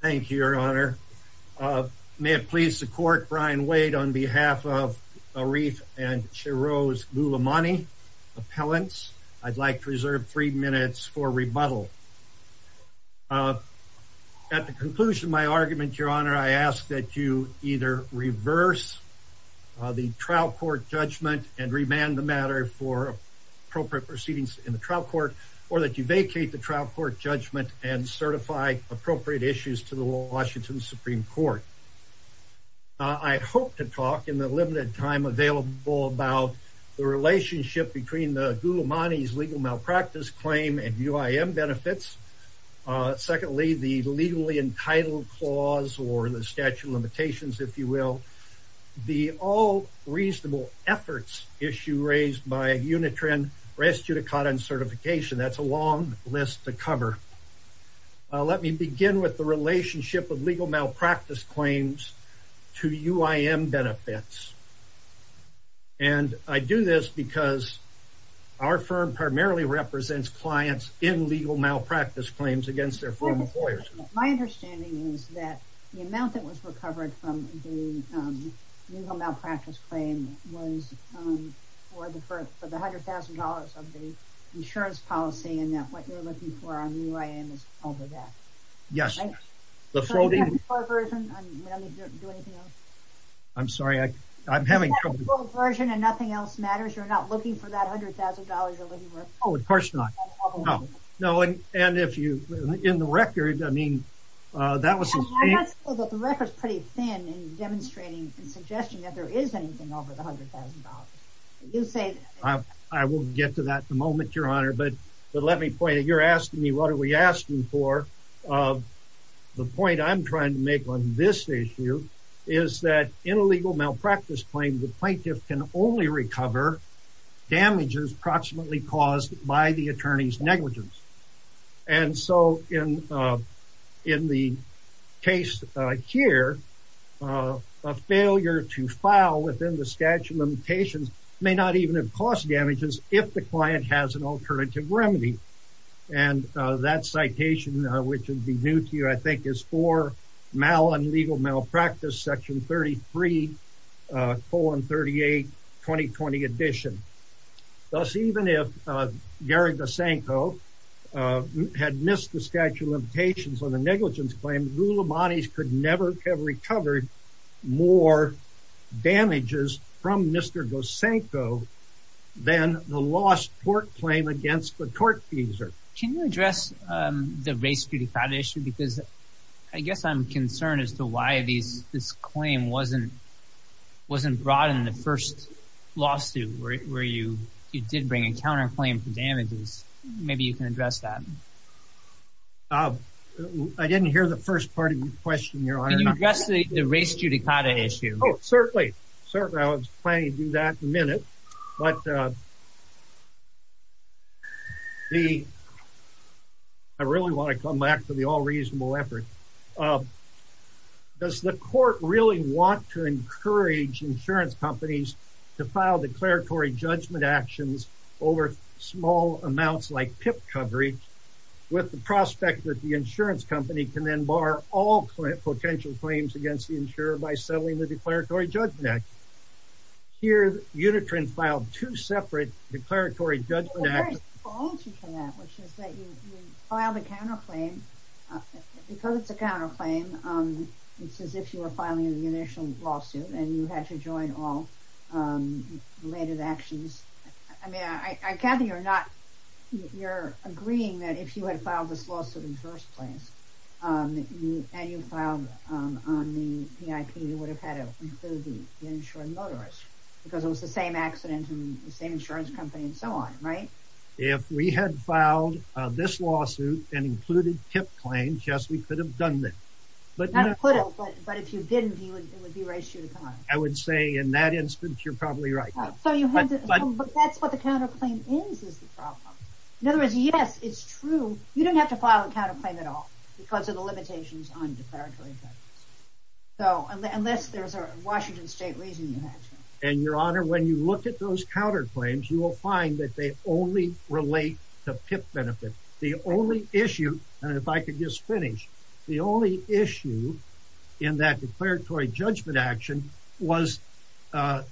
Thank you, Your Honor. May it please the Court, Brian Wade on behalf of Ariff and Shirose Gulamani, appellants, I'd like to reserve three minutes for rebuttal. At the conclusion of my argument, Your Honor, I ask that you either reverse the trial court judgment and remand the matter for appropriate proceedings in the trial court or that you vacate the trial court judgment and certify appropriate issues to the Washington Supreme Court. I hope to talk in the limited time available about the relationship between the Gulamani's legal malpractice claim and UIM benefits. Secondly, the legally entitled clause or the statute of limitations, if you will, the all reasonable efforts issue raised by Unitrin rests due to caught on certification. That's a long list to cover. Let me begin with the relationship of legal malpractice claims to UIM benefits. And I do this because our firm primarily represents clients in legal malpractice claims against their former employers. My understanding is that the amount that was recovered from the legal malpractice claim was for the 100,000 of the insurance policy and that what you're looking for on UIM is over that. Yes. I'm sorry. I'm having trouble. And nothing else matters. You're not looking for that $100,000 of living worth? Oh, of course not. No. And if you, in the record, I mean, that was pretty thin and demonstrating and suggesting that there is anything over the We'll get to that in a moment, Your Honor. But let me point out, you're asking me, what are we asking for? The point I'm trying to make on this issue is that in a legal malpractice claim, the plaintiff can only recover damages approximately caused by the attorney's negligence. And so in the case here, a failure to file within the statute of limitations may not even have damages if the client has an alternative remedy. And that citation, which would be new to you, I think, is for mal and legal malpractice, Section 33, 38, 2020 edition. Thus, even if Gary Gosanko had missed the statute of limitations on the negligence claim, rule of bodies could never have recovered more damages from Mr. Gosanko than the lost tort claim against the tortfeasor. Can you address the race to the foundation? Because I guess I'm concerned as to why these this claim wasn't wasn't brought in the first lawsuit where you did bring a counterclaim for damages. Maybe you can address that. I didn't hear the first part of your question, Your Honor. Can you address the race judicata issue? Oh, certainly. Certainly. I was planning to do that in a minute. But I really want to come back to the all reasonable effort. Does the court really want to encourage insurance companies to file declaratory judgment actions over small amounts like PIP coverage with the prospect that the insurance company can then bar all potential claims against the insurer by settling the declaratory judgment act? Here, Unikrin filed two separate declaratory judgment acts. Well, there's a fault for that, which is that you filed a counterclaim. Because it's a counterclaim, it's as if you were filing an initial lawsuit and you had to join all related actions. I mean, I gather you're not, you're agreeing that if you had filed this lawsuit in the first place, and you filed on the PIP, you would have had to include the insurance motorist because it was the same accident and the same insurance company and so on, right? If we had filed this lawsuit and included PIP claims, yes, we could have done that. But if you didn't, it would be race judicata. I would say in that instance, you're probably right. But that's what the counterclaim is, is the problem. In other words, yes, it's true. You didn't have to file a counterclaim at all because of the limitations on declaratory judgment. So unless there's a Washington State reason you had to. And your honor, when you look at those counterclaims, you will find that they only relate to PIP benefit. The only issue, and if I could just finish, the only issue in that declaratory judgment action was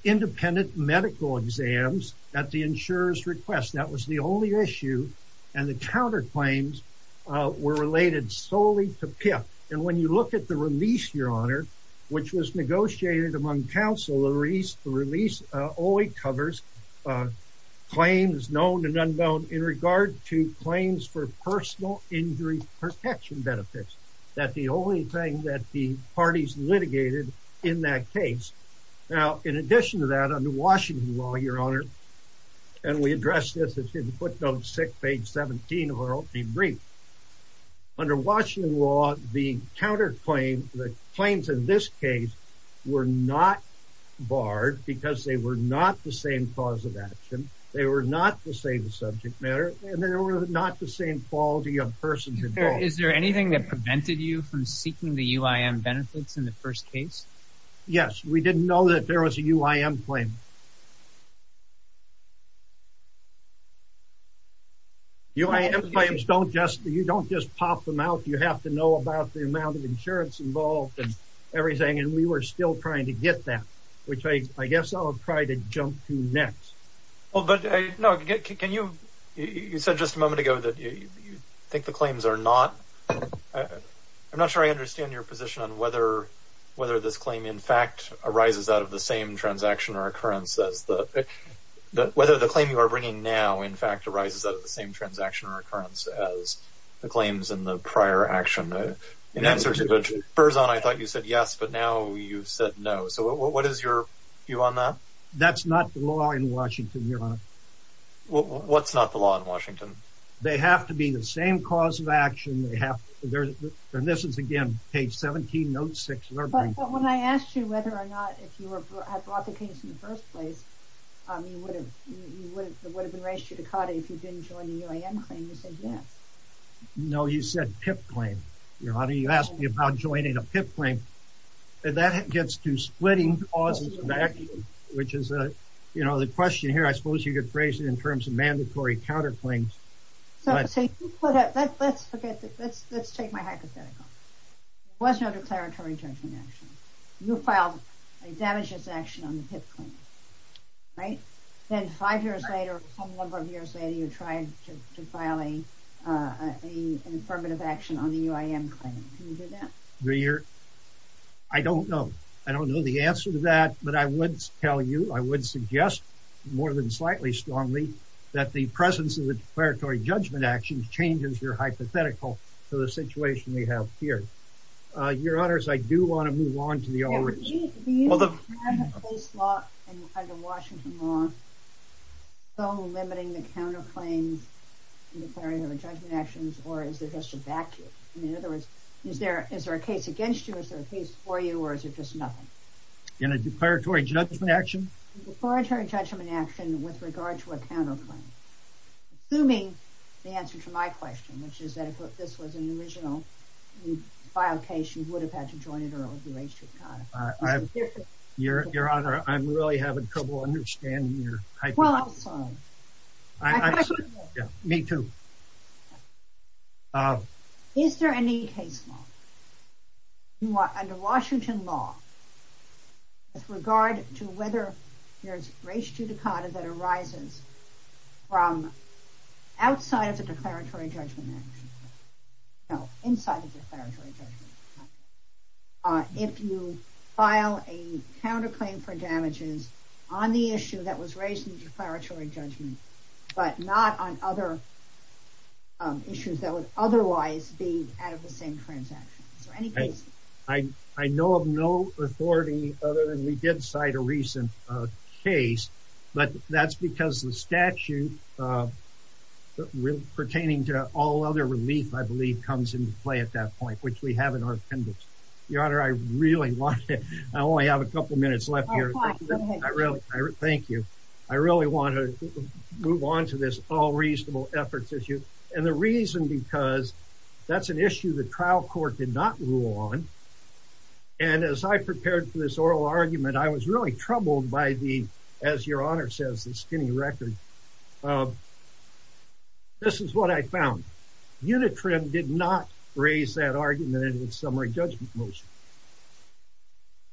independent medical exams at the insurer's request. That was the only issue. And the counterclaims were related solely to PIP. And when you look at the release, your honor, which was negotiated among counselories, the release only covers claims known and unknown in regard to claims for personal injury protection benefits. That the only thing that the parties litigated in that case. Now, in addition to that, under Washington law, your honor, and we addressed this in footnote six, page 17 of our opening brief. Under Washington law, the counterclaim, the claims in this case were not barred because they were not the same cause of action. They were not the same subject matter, and they were not the same quality of person. Is there anything that prevented you from seeking the UIM benefits in the first case? Yes. We didn't know that there was a UIM claim. UIM claims, you don't just pop them out. You have to know about the amount of insurance involved and everything, and we were still trying to get that, which I guess I'll try to jump to next. Well, but no, can you, you said just a moment ago that you think the claims are not, I'm not sure I understand your position on whether this claim in fact arises out of the same transaction or occurrence as the, whether the claim you are bringing now in fact arises out of the same transaction or occurrence as the claims in the prior action. In answer to the Burzon, I thought you said yes, but now you've said no. So what is your view on that? That's not the law in Washington, Your Honor. What's not the law in Washington? They have to be the same cause of action. They have to, and this is again, page 17, note six. But when I asked you whether or not, if you had brought the case in the first place, it would have been raised to you to cut it if you didn't join the UIM claim, you said yes. No, you said PIP claim, Your Honor. You asked me about joining a PIP claim, and that gets to splitting causes of action, which is, you know, the question here, I suppose you could phrase it in terms of mandatory counterclaims. Let's forget that. Let's take my hypothetical. There was no declaratory judgment action. You filed a damages action on the PIP claim, right? Then five years later, some number of years later, you tried to file an affirmative action on the UIM claim. Can you do that? I don't know. I don't know the answer to that, but I would tell you, I would suggest more than slightly strongly that the presence of the declaratory judgment action changes your hypothetical to the situation we have here. Your Honors, I do want to move on to the origin. Do you understand that this law under Washington law is so limiting the counterclaims in declaratory judgment actions, or is it just a vacuum? In other words, is there a case against you, is there a case for you, or is it just nothing? In a declaratory judgment action? Declaratory judgment action with regard to a counterclaim. Assuming the answer to my question, which is that if this was an original, you filed case, you would have had to join in an arbitration. Your Honor, I'm really having trouble understanding your type of question. Well, I'm sorry. I'm sorry. Yeah, me too. Okay. Is there any case law under Washington law with regard to whether there's race judicata that arises from outside of the declaratory judgment action? No, inside the declaratory judgment action. If you file a counterclaim for damages on the issue that was raised in declaratory judgment, but not on other issues that would otherwise be out of the same transaction. Is there any case? I know of no authority other than we did cite a recent case, but that's because the statute pertaining to all other relief, I believe, comes into play at that point, which we have in our appendix. Your Honor, I really want to... I only have a couple minutes left here. Thank you. I really want to move on to this all reasonable efforts issue. And the reason because that's an issue the trial court did not rule on. And as I prepared for this oral argument, I was really troubled by the, as your Honor says, the skinny record. This is what I found. Unitrin did not raise that argument in its summary judgment motion.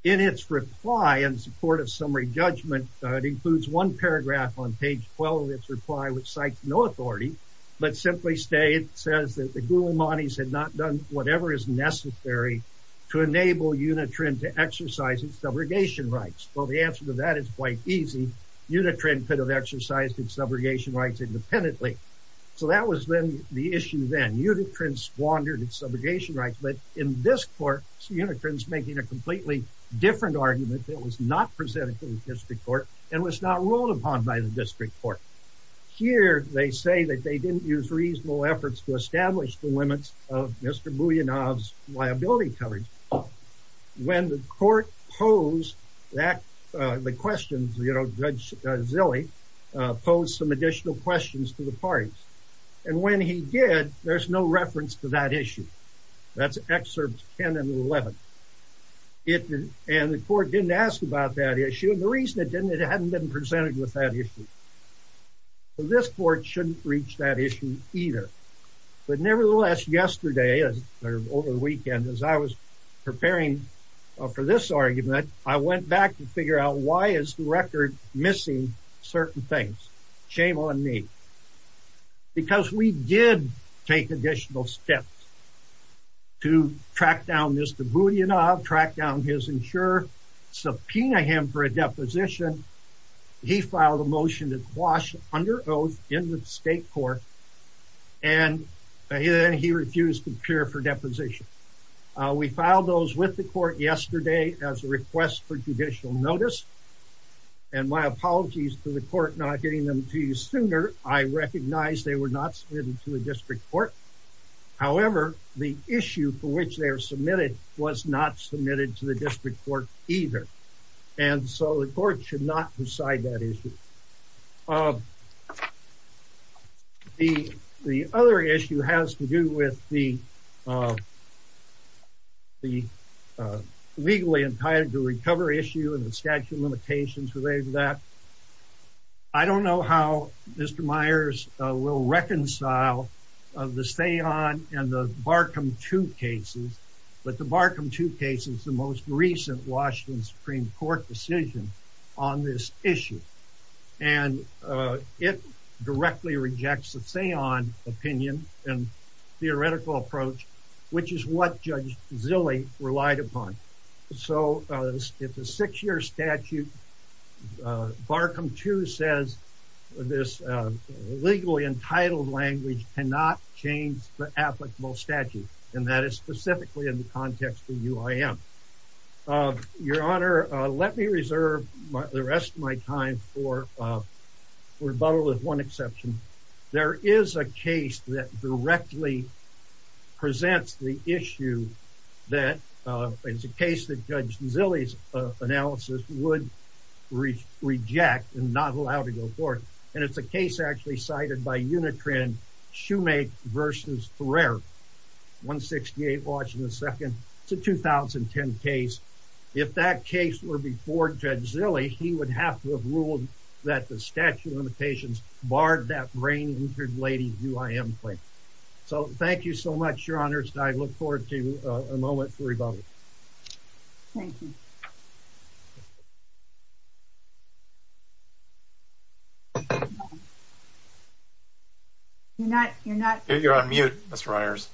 In its reply in support of summary judgment, it includes one paragraph on page 12 of its reply, which cites no authority, but simply says that the Gulamanes had not done whatever is necessary to enable Unitrin to exercise its subrogation rights. Well, the answer to that is quite easy. Unitrin could have exercised its subrogation rights independently. So that was then the issue then. Unitrin squandered its subrogation rights, but in this court, Unitrin's making a completely different argument that was not presented to the district court and was not ruled upon by the district court. Here, they say that they didn't use reasonable efforts to establish the limits of Mr. Bulyanov's liability coverage. When the court posed that, the questions, you know, Judge Zille posed some additional questions to the parties. And when he did, there's no reference to that issue. That's excerpts 10 and 11. And the court didn't ask about that issue. And the reason it didn't, it hadn't been presented with that issue. This court shouldn't reach that issue either. But nevertheless, yesterday, over the weekend, as I was preparing for this argument, I went back to figure out why is the record missing certain things? Shame on me. Because we did take additional steps to track down Mr. Bulyanov, track down his insurer, subpoena him for a deposition. He filed a motion to quash under oath in the state court. And then he refused to appear for deposition. We filed those with the court yesterday as a request for judicial notice. And my apologies to the court not getting them to you sooner. I recognize they were not submitted to the district court. However, the issue for which they are submitted was not submitted to district court either. And so the court should not decide that issue. The other issue has to do with the legally entitled to recover issue and the statute of limitations related to that. I don't know how Mr. Myers will reconcile the Stayon and the Barkham 2 cases. But the Barkham 2 case is the most recent Washington Supreme Court decision on this issue. And it directly rejects the Stayon opinion and theoretical approach, which is what Judge Zille relied upon. So it's a six year statute. Barkham 2 says this legally entitled language cannot change the statute. And that is specifically in the context of UIM. Your Honor, let me reserve the rest of my time for rebuttal with one exception. There is a case that directly presents the issue that is a case that Judge Zille's analysis would reject and not allow to report. And it's a case actually cited by Unitran, Shoemake v. Ferrer, 168 Washington 2nd. It's a 2010 case. If that case were before Judge Zille, he would have to have ruled that the statute of limitations barred that brain injured lady UIM claim. So thank you so much, Your Honor. And I look forward to a moment for rebuttal. Thank you. You're on mute, Mr. Myers.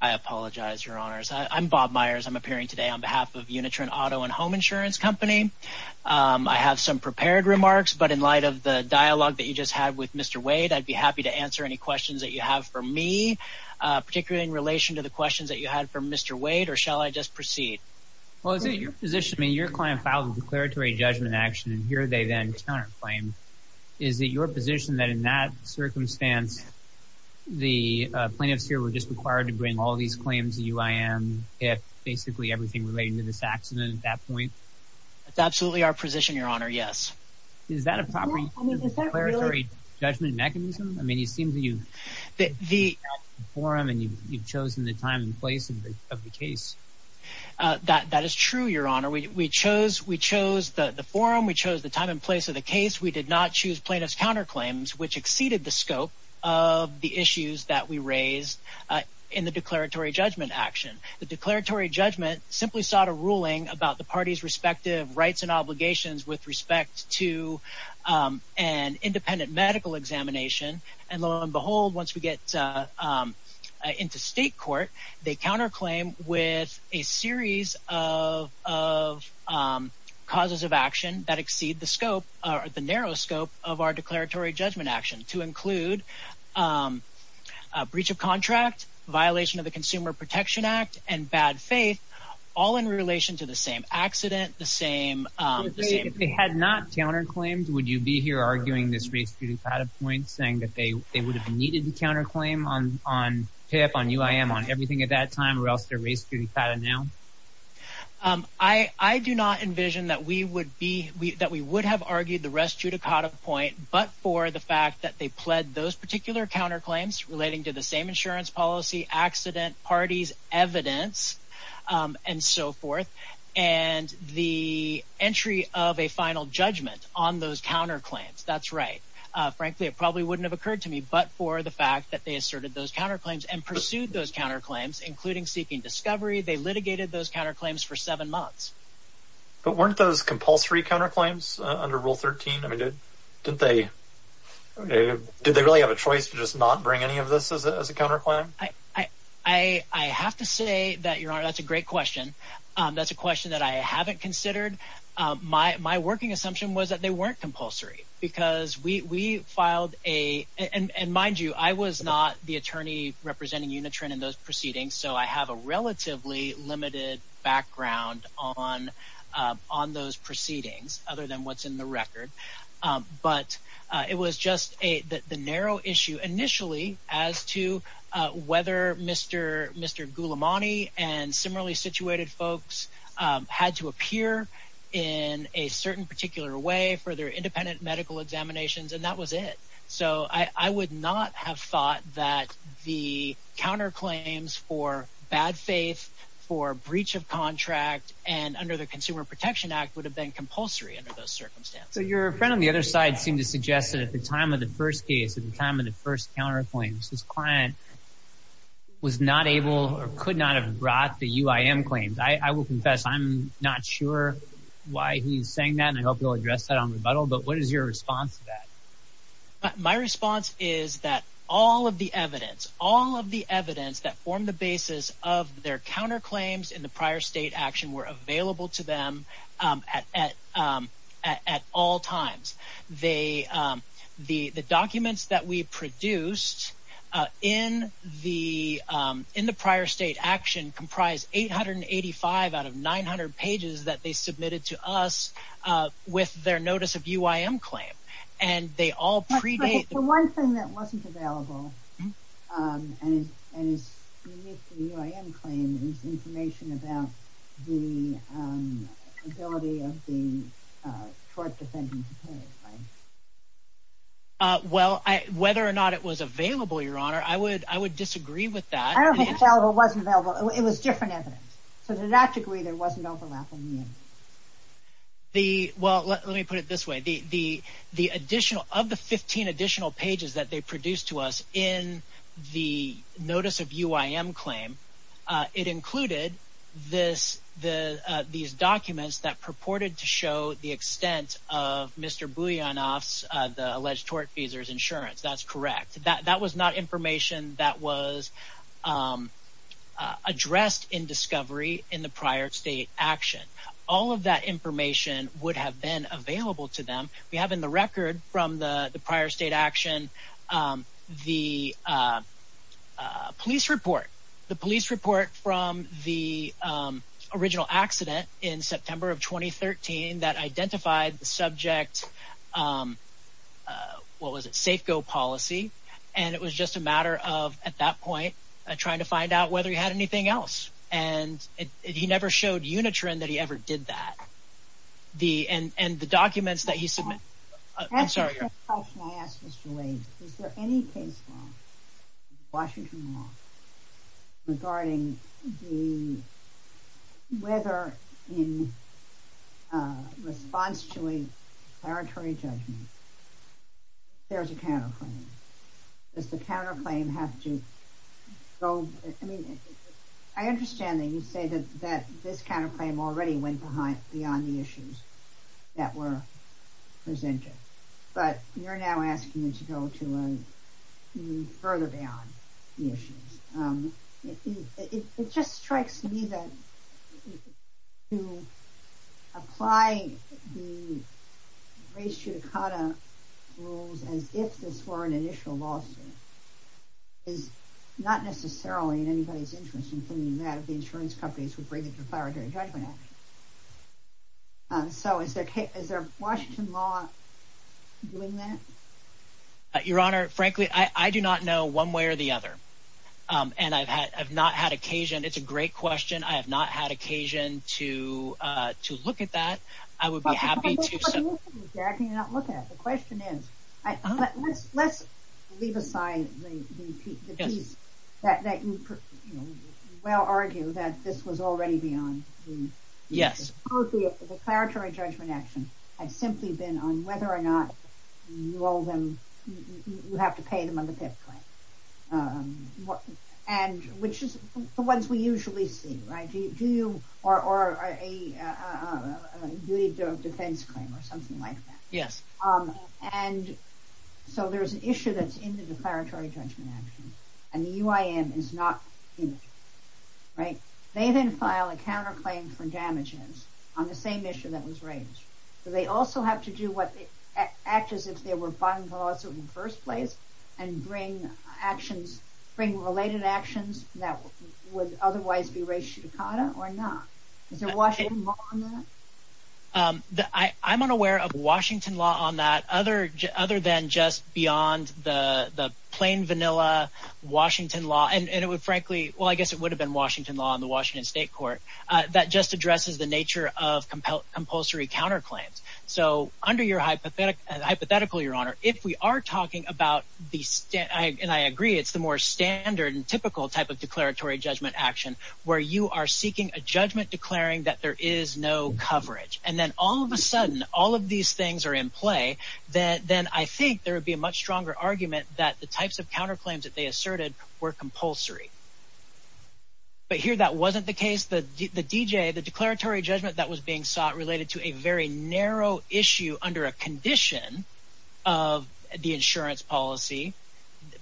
I apologize, Your Honors. I'm Bob Myers. I'm appearing today on behalf of Unitran Auto and Home Insurance Company. I have some prepared remarks, but in light of the dialogue that you just had with Mr. Wade, I'd be happy to answer any questions that you have for me. Particularly in relation to the questions that you had for Mr. Wade, or shall I just proceed? Well, is it your position, I mean, your client filed a declaratory judgment action, and here they then counterclaim. Is it your position that in that circumstance, the plaintiffs here were just required to bring all these claims to UIM, if basically everything relating to this accident at that point? That's absolutely our position, Your Honor, yes. Is that a proper declaratory judgment mechanism? I mean, it seems to you... The forum and you've chosen the time and place of the case. That is true, Your Honor. We chose the forum. We chose the time and place of the case. We did not choose plaintiff's counterclaims, which exceeded the scope of the issues that we raised in the declaratory judgment action. The declaratory judgment simply sought a ruling about the party's respective rights and obligations with respect to an independent medical examination. And lo and behold, once we get into state court, they counterclaim with a series of causes of action that exceed the scope or the narrow scope of our declaratory judgment action to include breach of contract, violation of the Consumer Protection Act, and bad faith, all in relation to the same accident, the same... If they had not counterclaimed, would you be here arguing this race to the point saying that they would have needed to counterclaim on PIP, on UIM, on everything at that time or else they're race to the pattern now? I do not envision that we would be... That we would have argued the rest to the point, but for the fact that they pled those particular counterclaims relating to the same insurance policy, accident, parties, evidence, and so forth. And the entry of a final judgment on those counterclaims, that's right. Frankly, it probably wouldn't have occurred to me, but for the fact that they asserted those counterclaims and pursued those counterclaims, including seeking discovery, they litigated those counterclaims for seven months. But weren't those compulsory counterclaims under Rule 13? I mean, didn't they... Did they really have a choice to just not bring any of this as a counterclaim? I have to say that, Your Honor, that's a great question. That's a question that I haven't considered. My working assumption was that they weren't compulsory because we filed a... And mind you, I was not the attorney representing Unitron in those proceedings, so I have a relatively limited background on those proceedings, other than what's in the record. But it was just the narrow issue initially as to whether Mr. Gulamani and similarly situated folks had to appear in a certain particular way for their independent medical examinations, and that was it. So I would not have thought that the counterclaims for bad faith, for breach of contract, and under the Consumer Protection Act would have been compulsory under those circumstances. So your friend on the other side seemed to suggest that at the time of the first case, at the time of the first counterclaims, this client was not able or could not have brought the UIM claims. I will confess I'm not sure why he's saying that, and I hope he'll address that on rebuttal, but what is your response to that? My response is that all of the evidence, all of the evidence that formed the basis of their counterclaims in the prior state action were available to them at all times. The documents that we produced in the prior state action comprised 885 out of 900 pages that they submitted to us with their notice of UIM claim, and they all predate... But the one thing that wasn't available, and is unique to the UIM claim, is information about the ability of the tort defendant to pay, right? Well, whether or not it was available, Your Honor, I would disagree with that. I don't think it was available. It was different evidence. So to that degree, there wasn't overlap. Well, let me put it this way. Of the 15 additional pages that they produced to us in the notice of UIM claim, it included these documents that purported to show the extent of Mr. Bulyanov's, the alleged tort feasor's, insurance. That's correct. That was not information that was addressed in discovery in the prior state action. All of that information would have been available to them. We have in the record from the prior state action, the police report. The police report from the original accident in September of 2013 that identified the subject, um, what was it? Safe-go policy. And it was just a matter of, at that point, trying to find out whether he had anything else. And he never showed unitron that he ever did that. And the documents that he submitted... I'm sorry, Your Honor. That's the first question I ask, Mr. Wade. Is there any case law, Washington law, regarding whether in response to a declaratory judgment, there's a counterclaim? Does the counterclaim have to go... I mean, I understand that you say that this counterclaim already went beyond the issues that were presented. But you're now asking me to go to a further beyond the issues. It just strikes me that to apply the race judicata rules as if this were an initial lawsuit is not necessarily in anybody's interest, including that of the insurance companies who bring the declaratory judgment. So is there Washington law doing that? Your Honor, frankly, I do not know one way or the other. And I've had I've not had occasion. It's a great question. I have not had occasion to look at that. I would be happy to... What do you mean you do not look at it? The question is, let's leave aside the piece that you well argue that this was already beyond. Yes. The declaratory judgment action has simply been on whether or not you owe them, you have to pay them on the fifth claim. And which is the ones we usually see, right? Do you or a defense claim or something like that? Yes. And so there's an issue that's in the declaratory judgment action and the UIM is not right. They then file a counterclaim for damages on the same issue that was raised. So they also have to do what they act as if they were buying the lawsuit in the first place and bring actions, bring related actions that would otherwise be race judicata or not. Is there Washington law on that? I'm unaware of Washington law on that other than just beyond the plain vanilla Washington law. And it would frankly, well, I guess it would have been Washington law on the Washington state court that just addresses the nature of compulsory counterclaims. So under your hypothetical, your honor, if we are talking about the state and I agree, it's the more standard and typical type of declaratory judgment action where you are seeking a judgment declaring that there is no coverage. And then all of a sudden all of these things are in play that then I think there would be a much stronger argument that the types of counterclaims that they asserted were compulsory. But here, that wasn't the case. The DJ, the declaratory judgment that was being sought related to a very narrow issue under a condition of the insurance policy,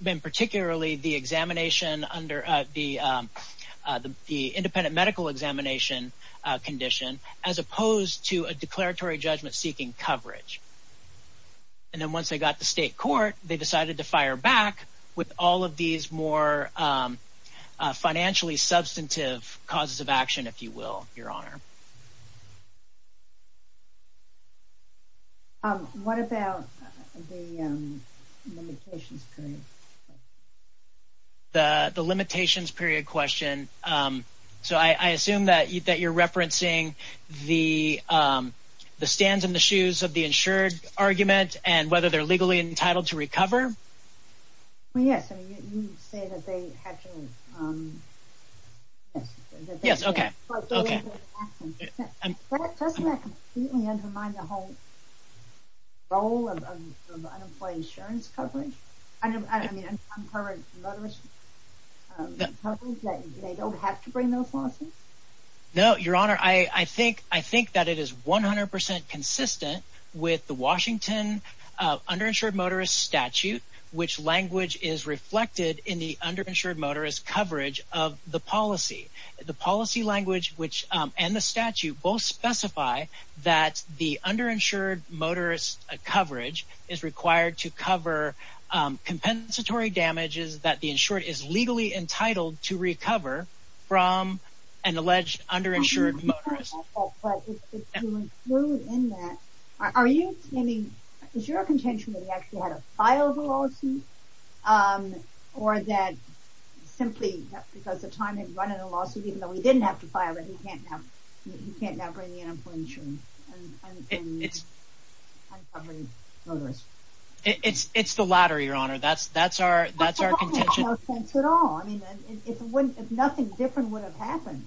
then particularly the examination under the independent medical examination condition, as opposed to a declaratory judgment seeking coverage. And then once they got the state court, they decided to fire back with all of these more financially substantive causes of action, if you will, your honor. What about the limitations period? The limitations period question. So I assume that you're referencing the stands in the shoes of the insured argument and whether they're legally entitled to recover? Well, yes, I mean, you say that they have to, um, yes, yes. Okay. Okay. Doesn't that completely undermine the whole role of unemployed insurance coverage? I mean, uncovered motorist coverage, that they don't have to bring those lawsuits? No, your honor. I think, I think that it is 100% consistent with the Washington underinsured motorist statute, which language is reflected in the underinsured motorist coverage of the policy, the policy language, which, um, and the statute both specify that the underinsured motorist coverage is required to cover, um, compensatory damages that the insured is legally entitled to recover from an alleged underinsured motorist. But if you include in that, are you, I mean, is your contention that he actually had to file the lawsuit? Um, or that simply because the time he'd run in a lawsuit, even though he didn't have to file it, he can't now, he can't now bring the unemployment insurance. It's, it's the latter, your honor. That's, that's our, that's our contention at all. I mean, if it wouldn't, if nothing different would have happened,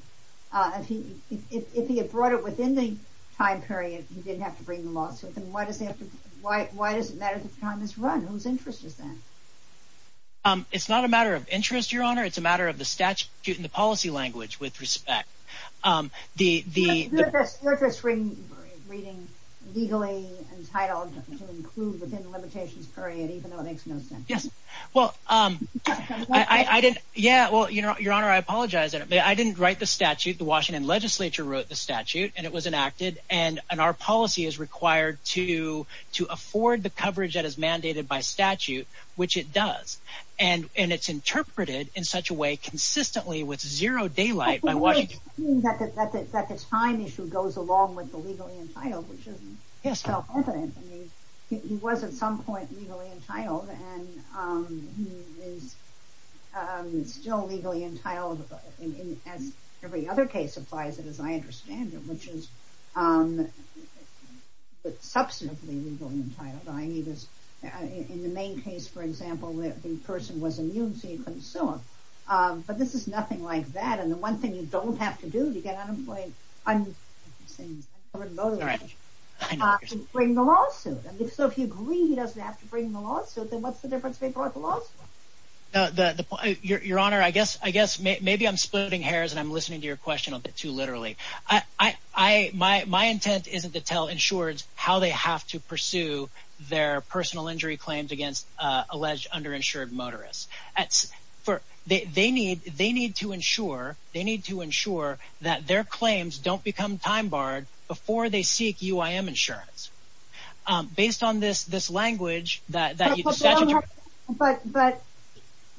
uh, if he, if, if he had brought it within the time period, he didn't have to bring the lawsuit. Then why does he have to, why, why does it matter if the time is run? Whose interest is that? Um, it's not a matter of interest, your honor. It's a matter of the statute and the policy language with respect. Um, the, the interest rating legally entitled to include within the limitations period, even though it makes no sense. Yes. Well, um, I, I didn't, yeah, well, you know, your honor, I apologize that I didn't write the statute. The Washington legislature wrote the statute and it was enacted and, and our policy is required to, to afford the coverage that is mandated by statute, which it does. And, and it's interpreted in such a way consistently with zero daylight. That the time issue goes along with the legally entitled, which isn't self-confident. I mean, he was at some point legally entitled and, um, he is, um, still legally entitled as every other case applies it, as I understand it, which is, um, but substantively legally entitled. I mean, he was in the main case, for example, that the person was immune, so you couldn't sue him. Um, but this is nothing like that. And the one thing you don't have to do to get unemployed. I'm saying bring the lawsuit. I mean, so if you agree, he doesn't have to bring the lawsuit, then what's the difference between the lawsuit? No, the, the, your, your honor, I guess, I guess maybe I'm splitting hairs and I'm listening to your question a bit too literally. I, I, I, my, my intent isn't to tell insureds how they have to pursue their personal injury claims against, uh, alleged underinsured motorists. That's for they need, they need to ensure, they need to ensure that their claims don't become time barred before they seek UIM insurance. Um, based on this, this language that, that, but, but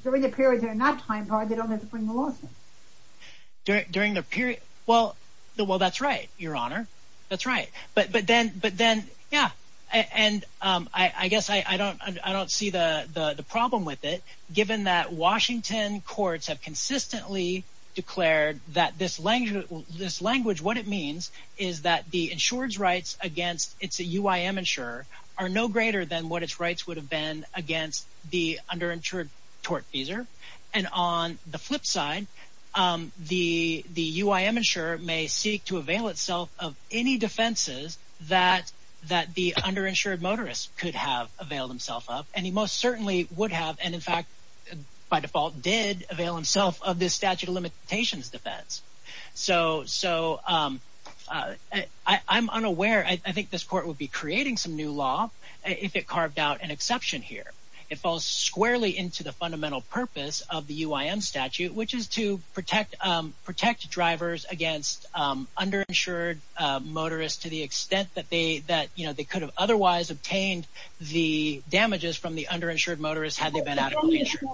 during the period, they're not time barred. They don't have to bring the lawsuit during the period. Well, the, well, that's right, your honor. That's right. But, but then, but then, yeah. And, um, I, I guess I don't, I don't see the, the, the problem with it given that Washington courts have consistently declared that this language, this language, what it means is that the insured's rights against it's a UIM insurer are no greater than what its rights would have been against the underinsured tort fees. And on the flip side, um, the, the UIM insurer may seek to avail itself of any defenses that, that the underinsured motorist could have availed himself up. And he most certainly would have. And in fact, by default did avail himself of this statute of limitations defense. So, so, um, uh, I, I'm unaware. I think this court would be creating some new law if it carved out an exception here, it falls squarely into the fundamental purpose of the UIM statute, which is to protect, um, protect drivers against, um, under insured, uh, motorists to the extent that they, that, you know, they could have otherwise obtained the damages from the underinsured motorists had they been adequately insured.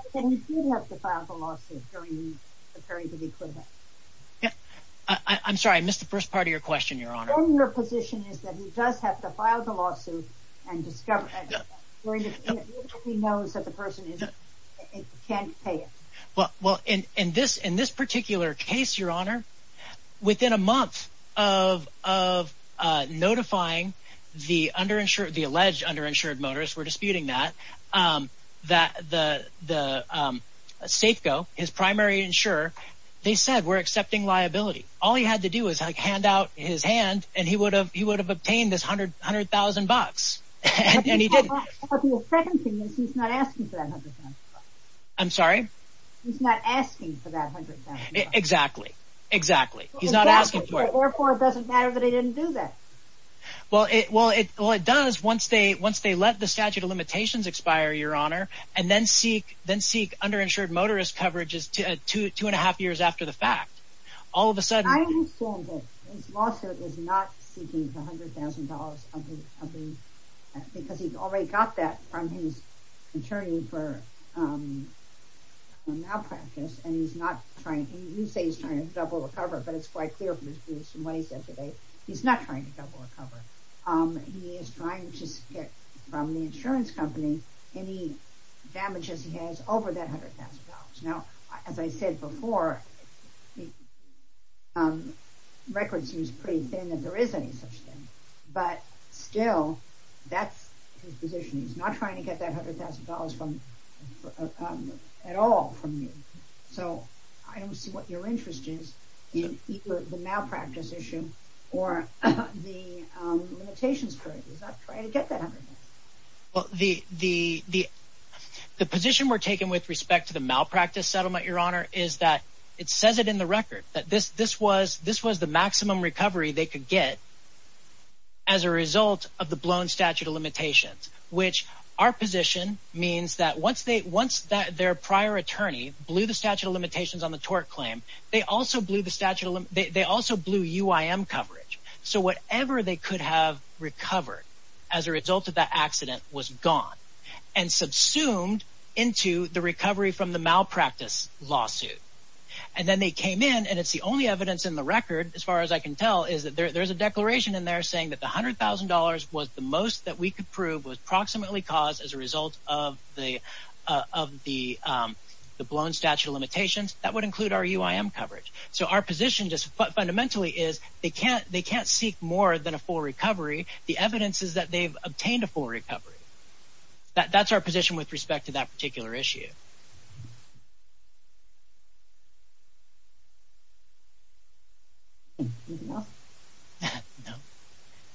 I'm sorry, I missed the first part of your question, your honor. Then your position is that he does have to file the lawsuit and discover that he knows that the person is, can't pay it. Well, well, in, in this, in this particular case, your honor, within a month of, of, uh, notifying the underinsured, the alleged underinsured motorists were disputing that, um, that the, the, um, Safeco, his primary insurer, they said, we're accepting liability. All he had to do is hand out his hand and he would have, he would have obtained this hundred, a hundred thousand bucks and he didn't. I'm sorry. He's not asking for that hundred thousand bucks. Exactly. Exactly. He's not asking for it. Or for, it doesn't matter that he didn't do that. Well, it, well, it, well, it does once they, once they let the statute of limitations expire, your honor, and then seek, then seek underinsured motorist coverages to, uh, two, two and a half years after the fact, all of a sudden... I am informed that his lawsuit is not seeking the $100,000 of the, of the, because he already got that from his attorney for, um, malpractice and he's not trying, and you say he's trying to double recover, but it's quite clear from his briefs and what he said today, he's not trying to double recover. Um, he is trying to get from the insurance company any damages he has over that $100,000. Now, as I said before, um, records he was pretty thin that there is any such thing, but still that's his position. He's not trying to get that hundred thousand dollars from, um, at all from you. So I don't see what your interest is in either the malpractice issue or the, um, limitations for it. He's not trying to get that hundred. Well, the, the, the position we're taking with respect to the malpractice settlement, your honor, is that it says it in the record, that this, this was, this was the maximum recovery they could get as a result of the blown statute of limitations, which our position means that once they, once that their prior attorney blew the statute, they also blew UIM coverage. So whatever they could have recovered as a result of that accident was gone and subsumed into the recovery from the malpractice lawsuit. And then they came in and it's the only evidence in the record, as far as I can tell, is that there, there's a declaration in there saying that the hundred thousand dollars was the most that we could prove was approximately caused as a result of the, uh, of the, um, the blown statute of limitations that would include our UIM coverage. So our position just fundamentally is they can't, they can't seek more than a full recovery. The evidence is that they've obtained a full recovery. That, that's our position with respect to that particular issue.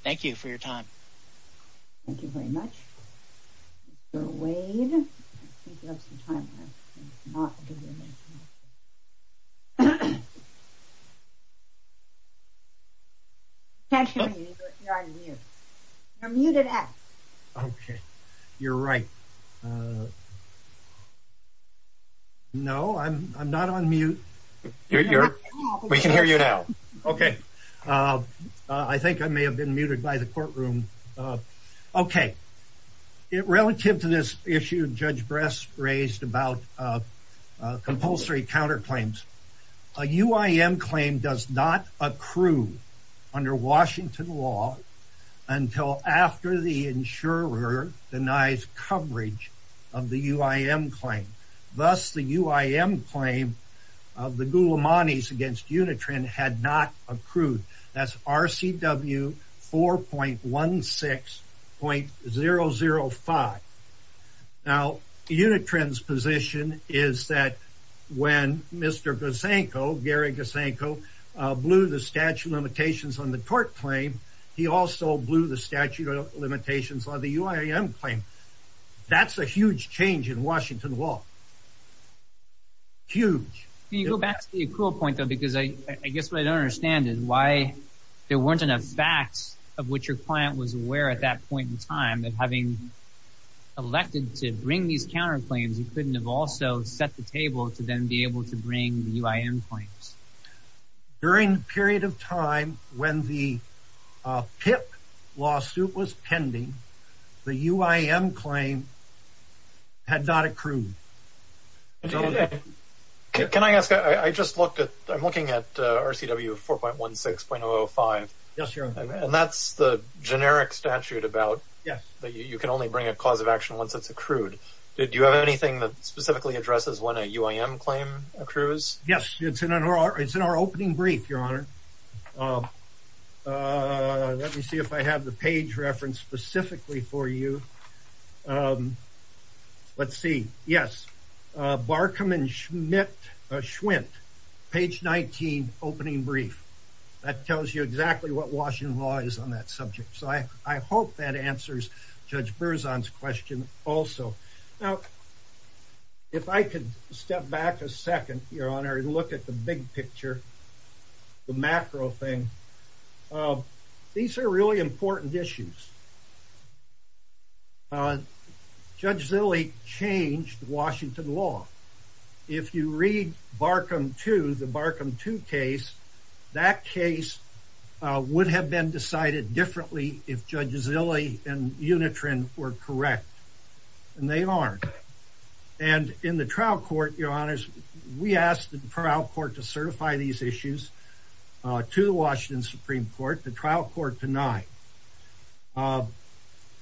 Thank you for your time. Thank you very much. You're muted. Okay. You're right. No, I'm, I'm not on mute. We can hear you now. Okay. Uh, uh, I think I may have been muted by the courtroom. Uh, okay. It relative to this issue, judge breast raised about, uh, uh, compulsory counterclaims. A UIM claim does not accrue under Washington law until after the insurer denies coverage of the UIM claim. Thus the UIM claim of the Gula Manis against Unitran had not accrued. That's RCW 4.16.005. Now Unitran's position is that when Mr. Gusanko, Gary Gusanko, uh, blew the statute of limitations on the court claim, he also blew the statute of limitations on the UIM claim. That's a huge change in Washington law. Huge. Can you go back to the cool point though? Because I, I guess what I don't understand is why there weren't enough facts of which your client was aware at that point in time that having elected to bring these counterclaims, you couldn't have also set the table to then be able to bring the UIM claims. During the period of time when the, uh, PIP lawsuit was pending, the UIM claim had not accrued. Can I ask, I just looked at, I'm looking at, uh, RCW 4.16.005. Yes, Your Honor. And that's the generic statute about that you can only bring a cause of action once it's accrued. Did you have anything that specifically addresses when a UIM claim accrues? Yes, it's in our, it's in our opening brief, Your Honor. Uh, uh, let me see if I have the page reference specifically for you. Um, let's see. Yes. Uh, Barkham and Schmidt, uh, Schwent page 19 opening brief that tells you exactly what Washington law is on that subject. So I, I hope that answers Judge Berzon's question also. Now, if I could step back a second, Your Honor, look at the big picture, the macro thing. Uh, these are really important issues. Uh, Judge Zille changed Washington law. If you read Barkham 2, the Barkham 2 case, that case, uh, would have been decided differently if Judge Zille and Unitron were correct. And they aren't. And in the trial court, Your Honors, we asked the trial court to certify these issues, uh, to the Washington Supreme Court, the trial court denied. Uh,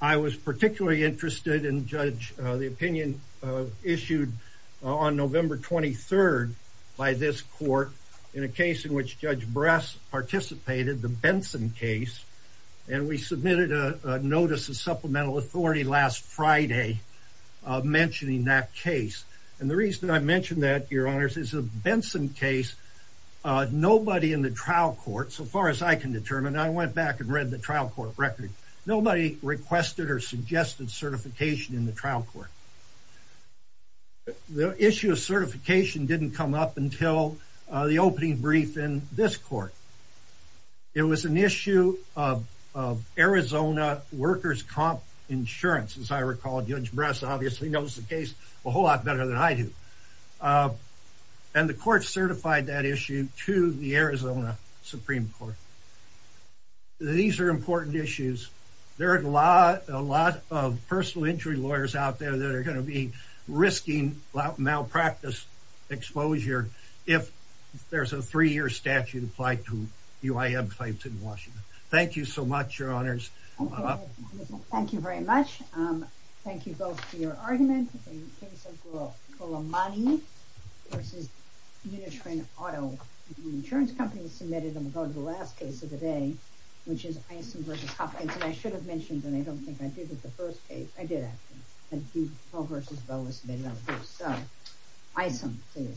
I was particularly interested in Judge, uh, the opinion, uh, issued on November 23rd by this court in a case in which Judge Bress participated, the Benson case. And we submitted a notice of supplemental authority last Friday, uh, mentioning that case. And the reason that I mentioned that, Your Honors, is a Benson case. Uh, nobody in the trial court, so far as I can determine, I went back and read the trial court record. Nobody requested or suggested certification in the trial court. The issue of certification didn't come up until, uh, the opening brief in this court. It was an Judge Bress obviously knows the case a whole lot better than I do. Uh, and the court certified that issue to the Arizona Supreme Court. These are important issues. There are a lot, a lot of personal injury lawyers out there that are going to be risking malpractice exposure if there's a three-year statute applied to UIM claims in Washington. Thank you so much, Your Honors. Well, thank you very much. Um, thank you both for your argument. In the case of Kolamani v. Unitron Auto, the insurance company submitted them about the last case of the day, which is Isom v. Hopkins. And I should have mentioned, and I don't think I did at the first case, I did actually, that Dupo v. Vo was submitted on the first, uh, Isom case.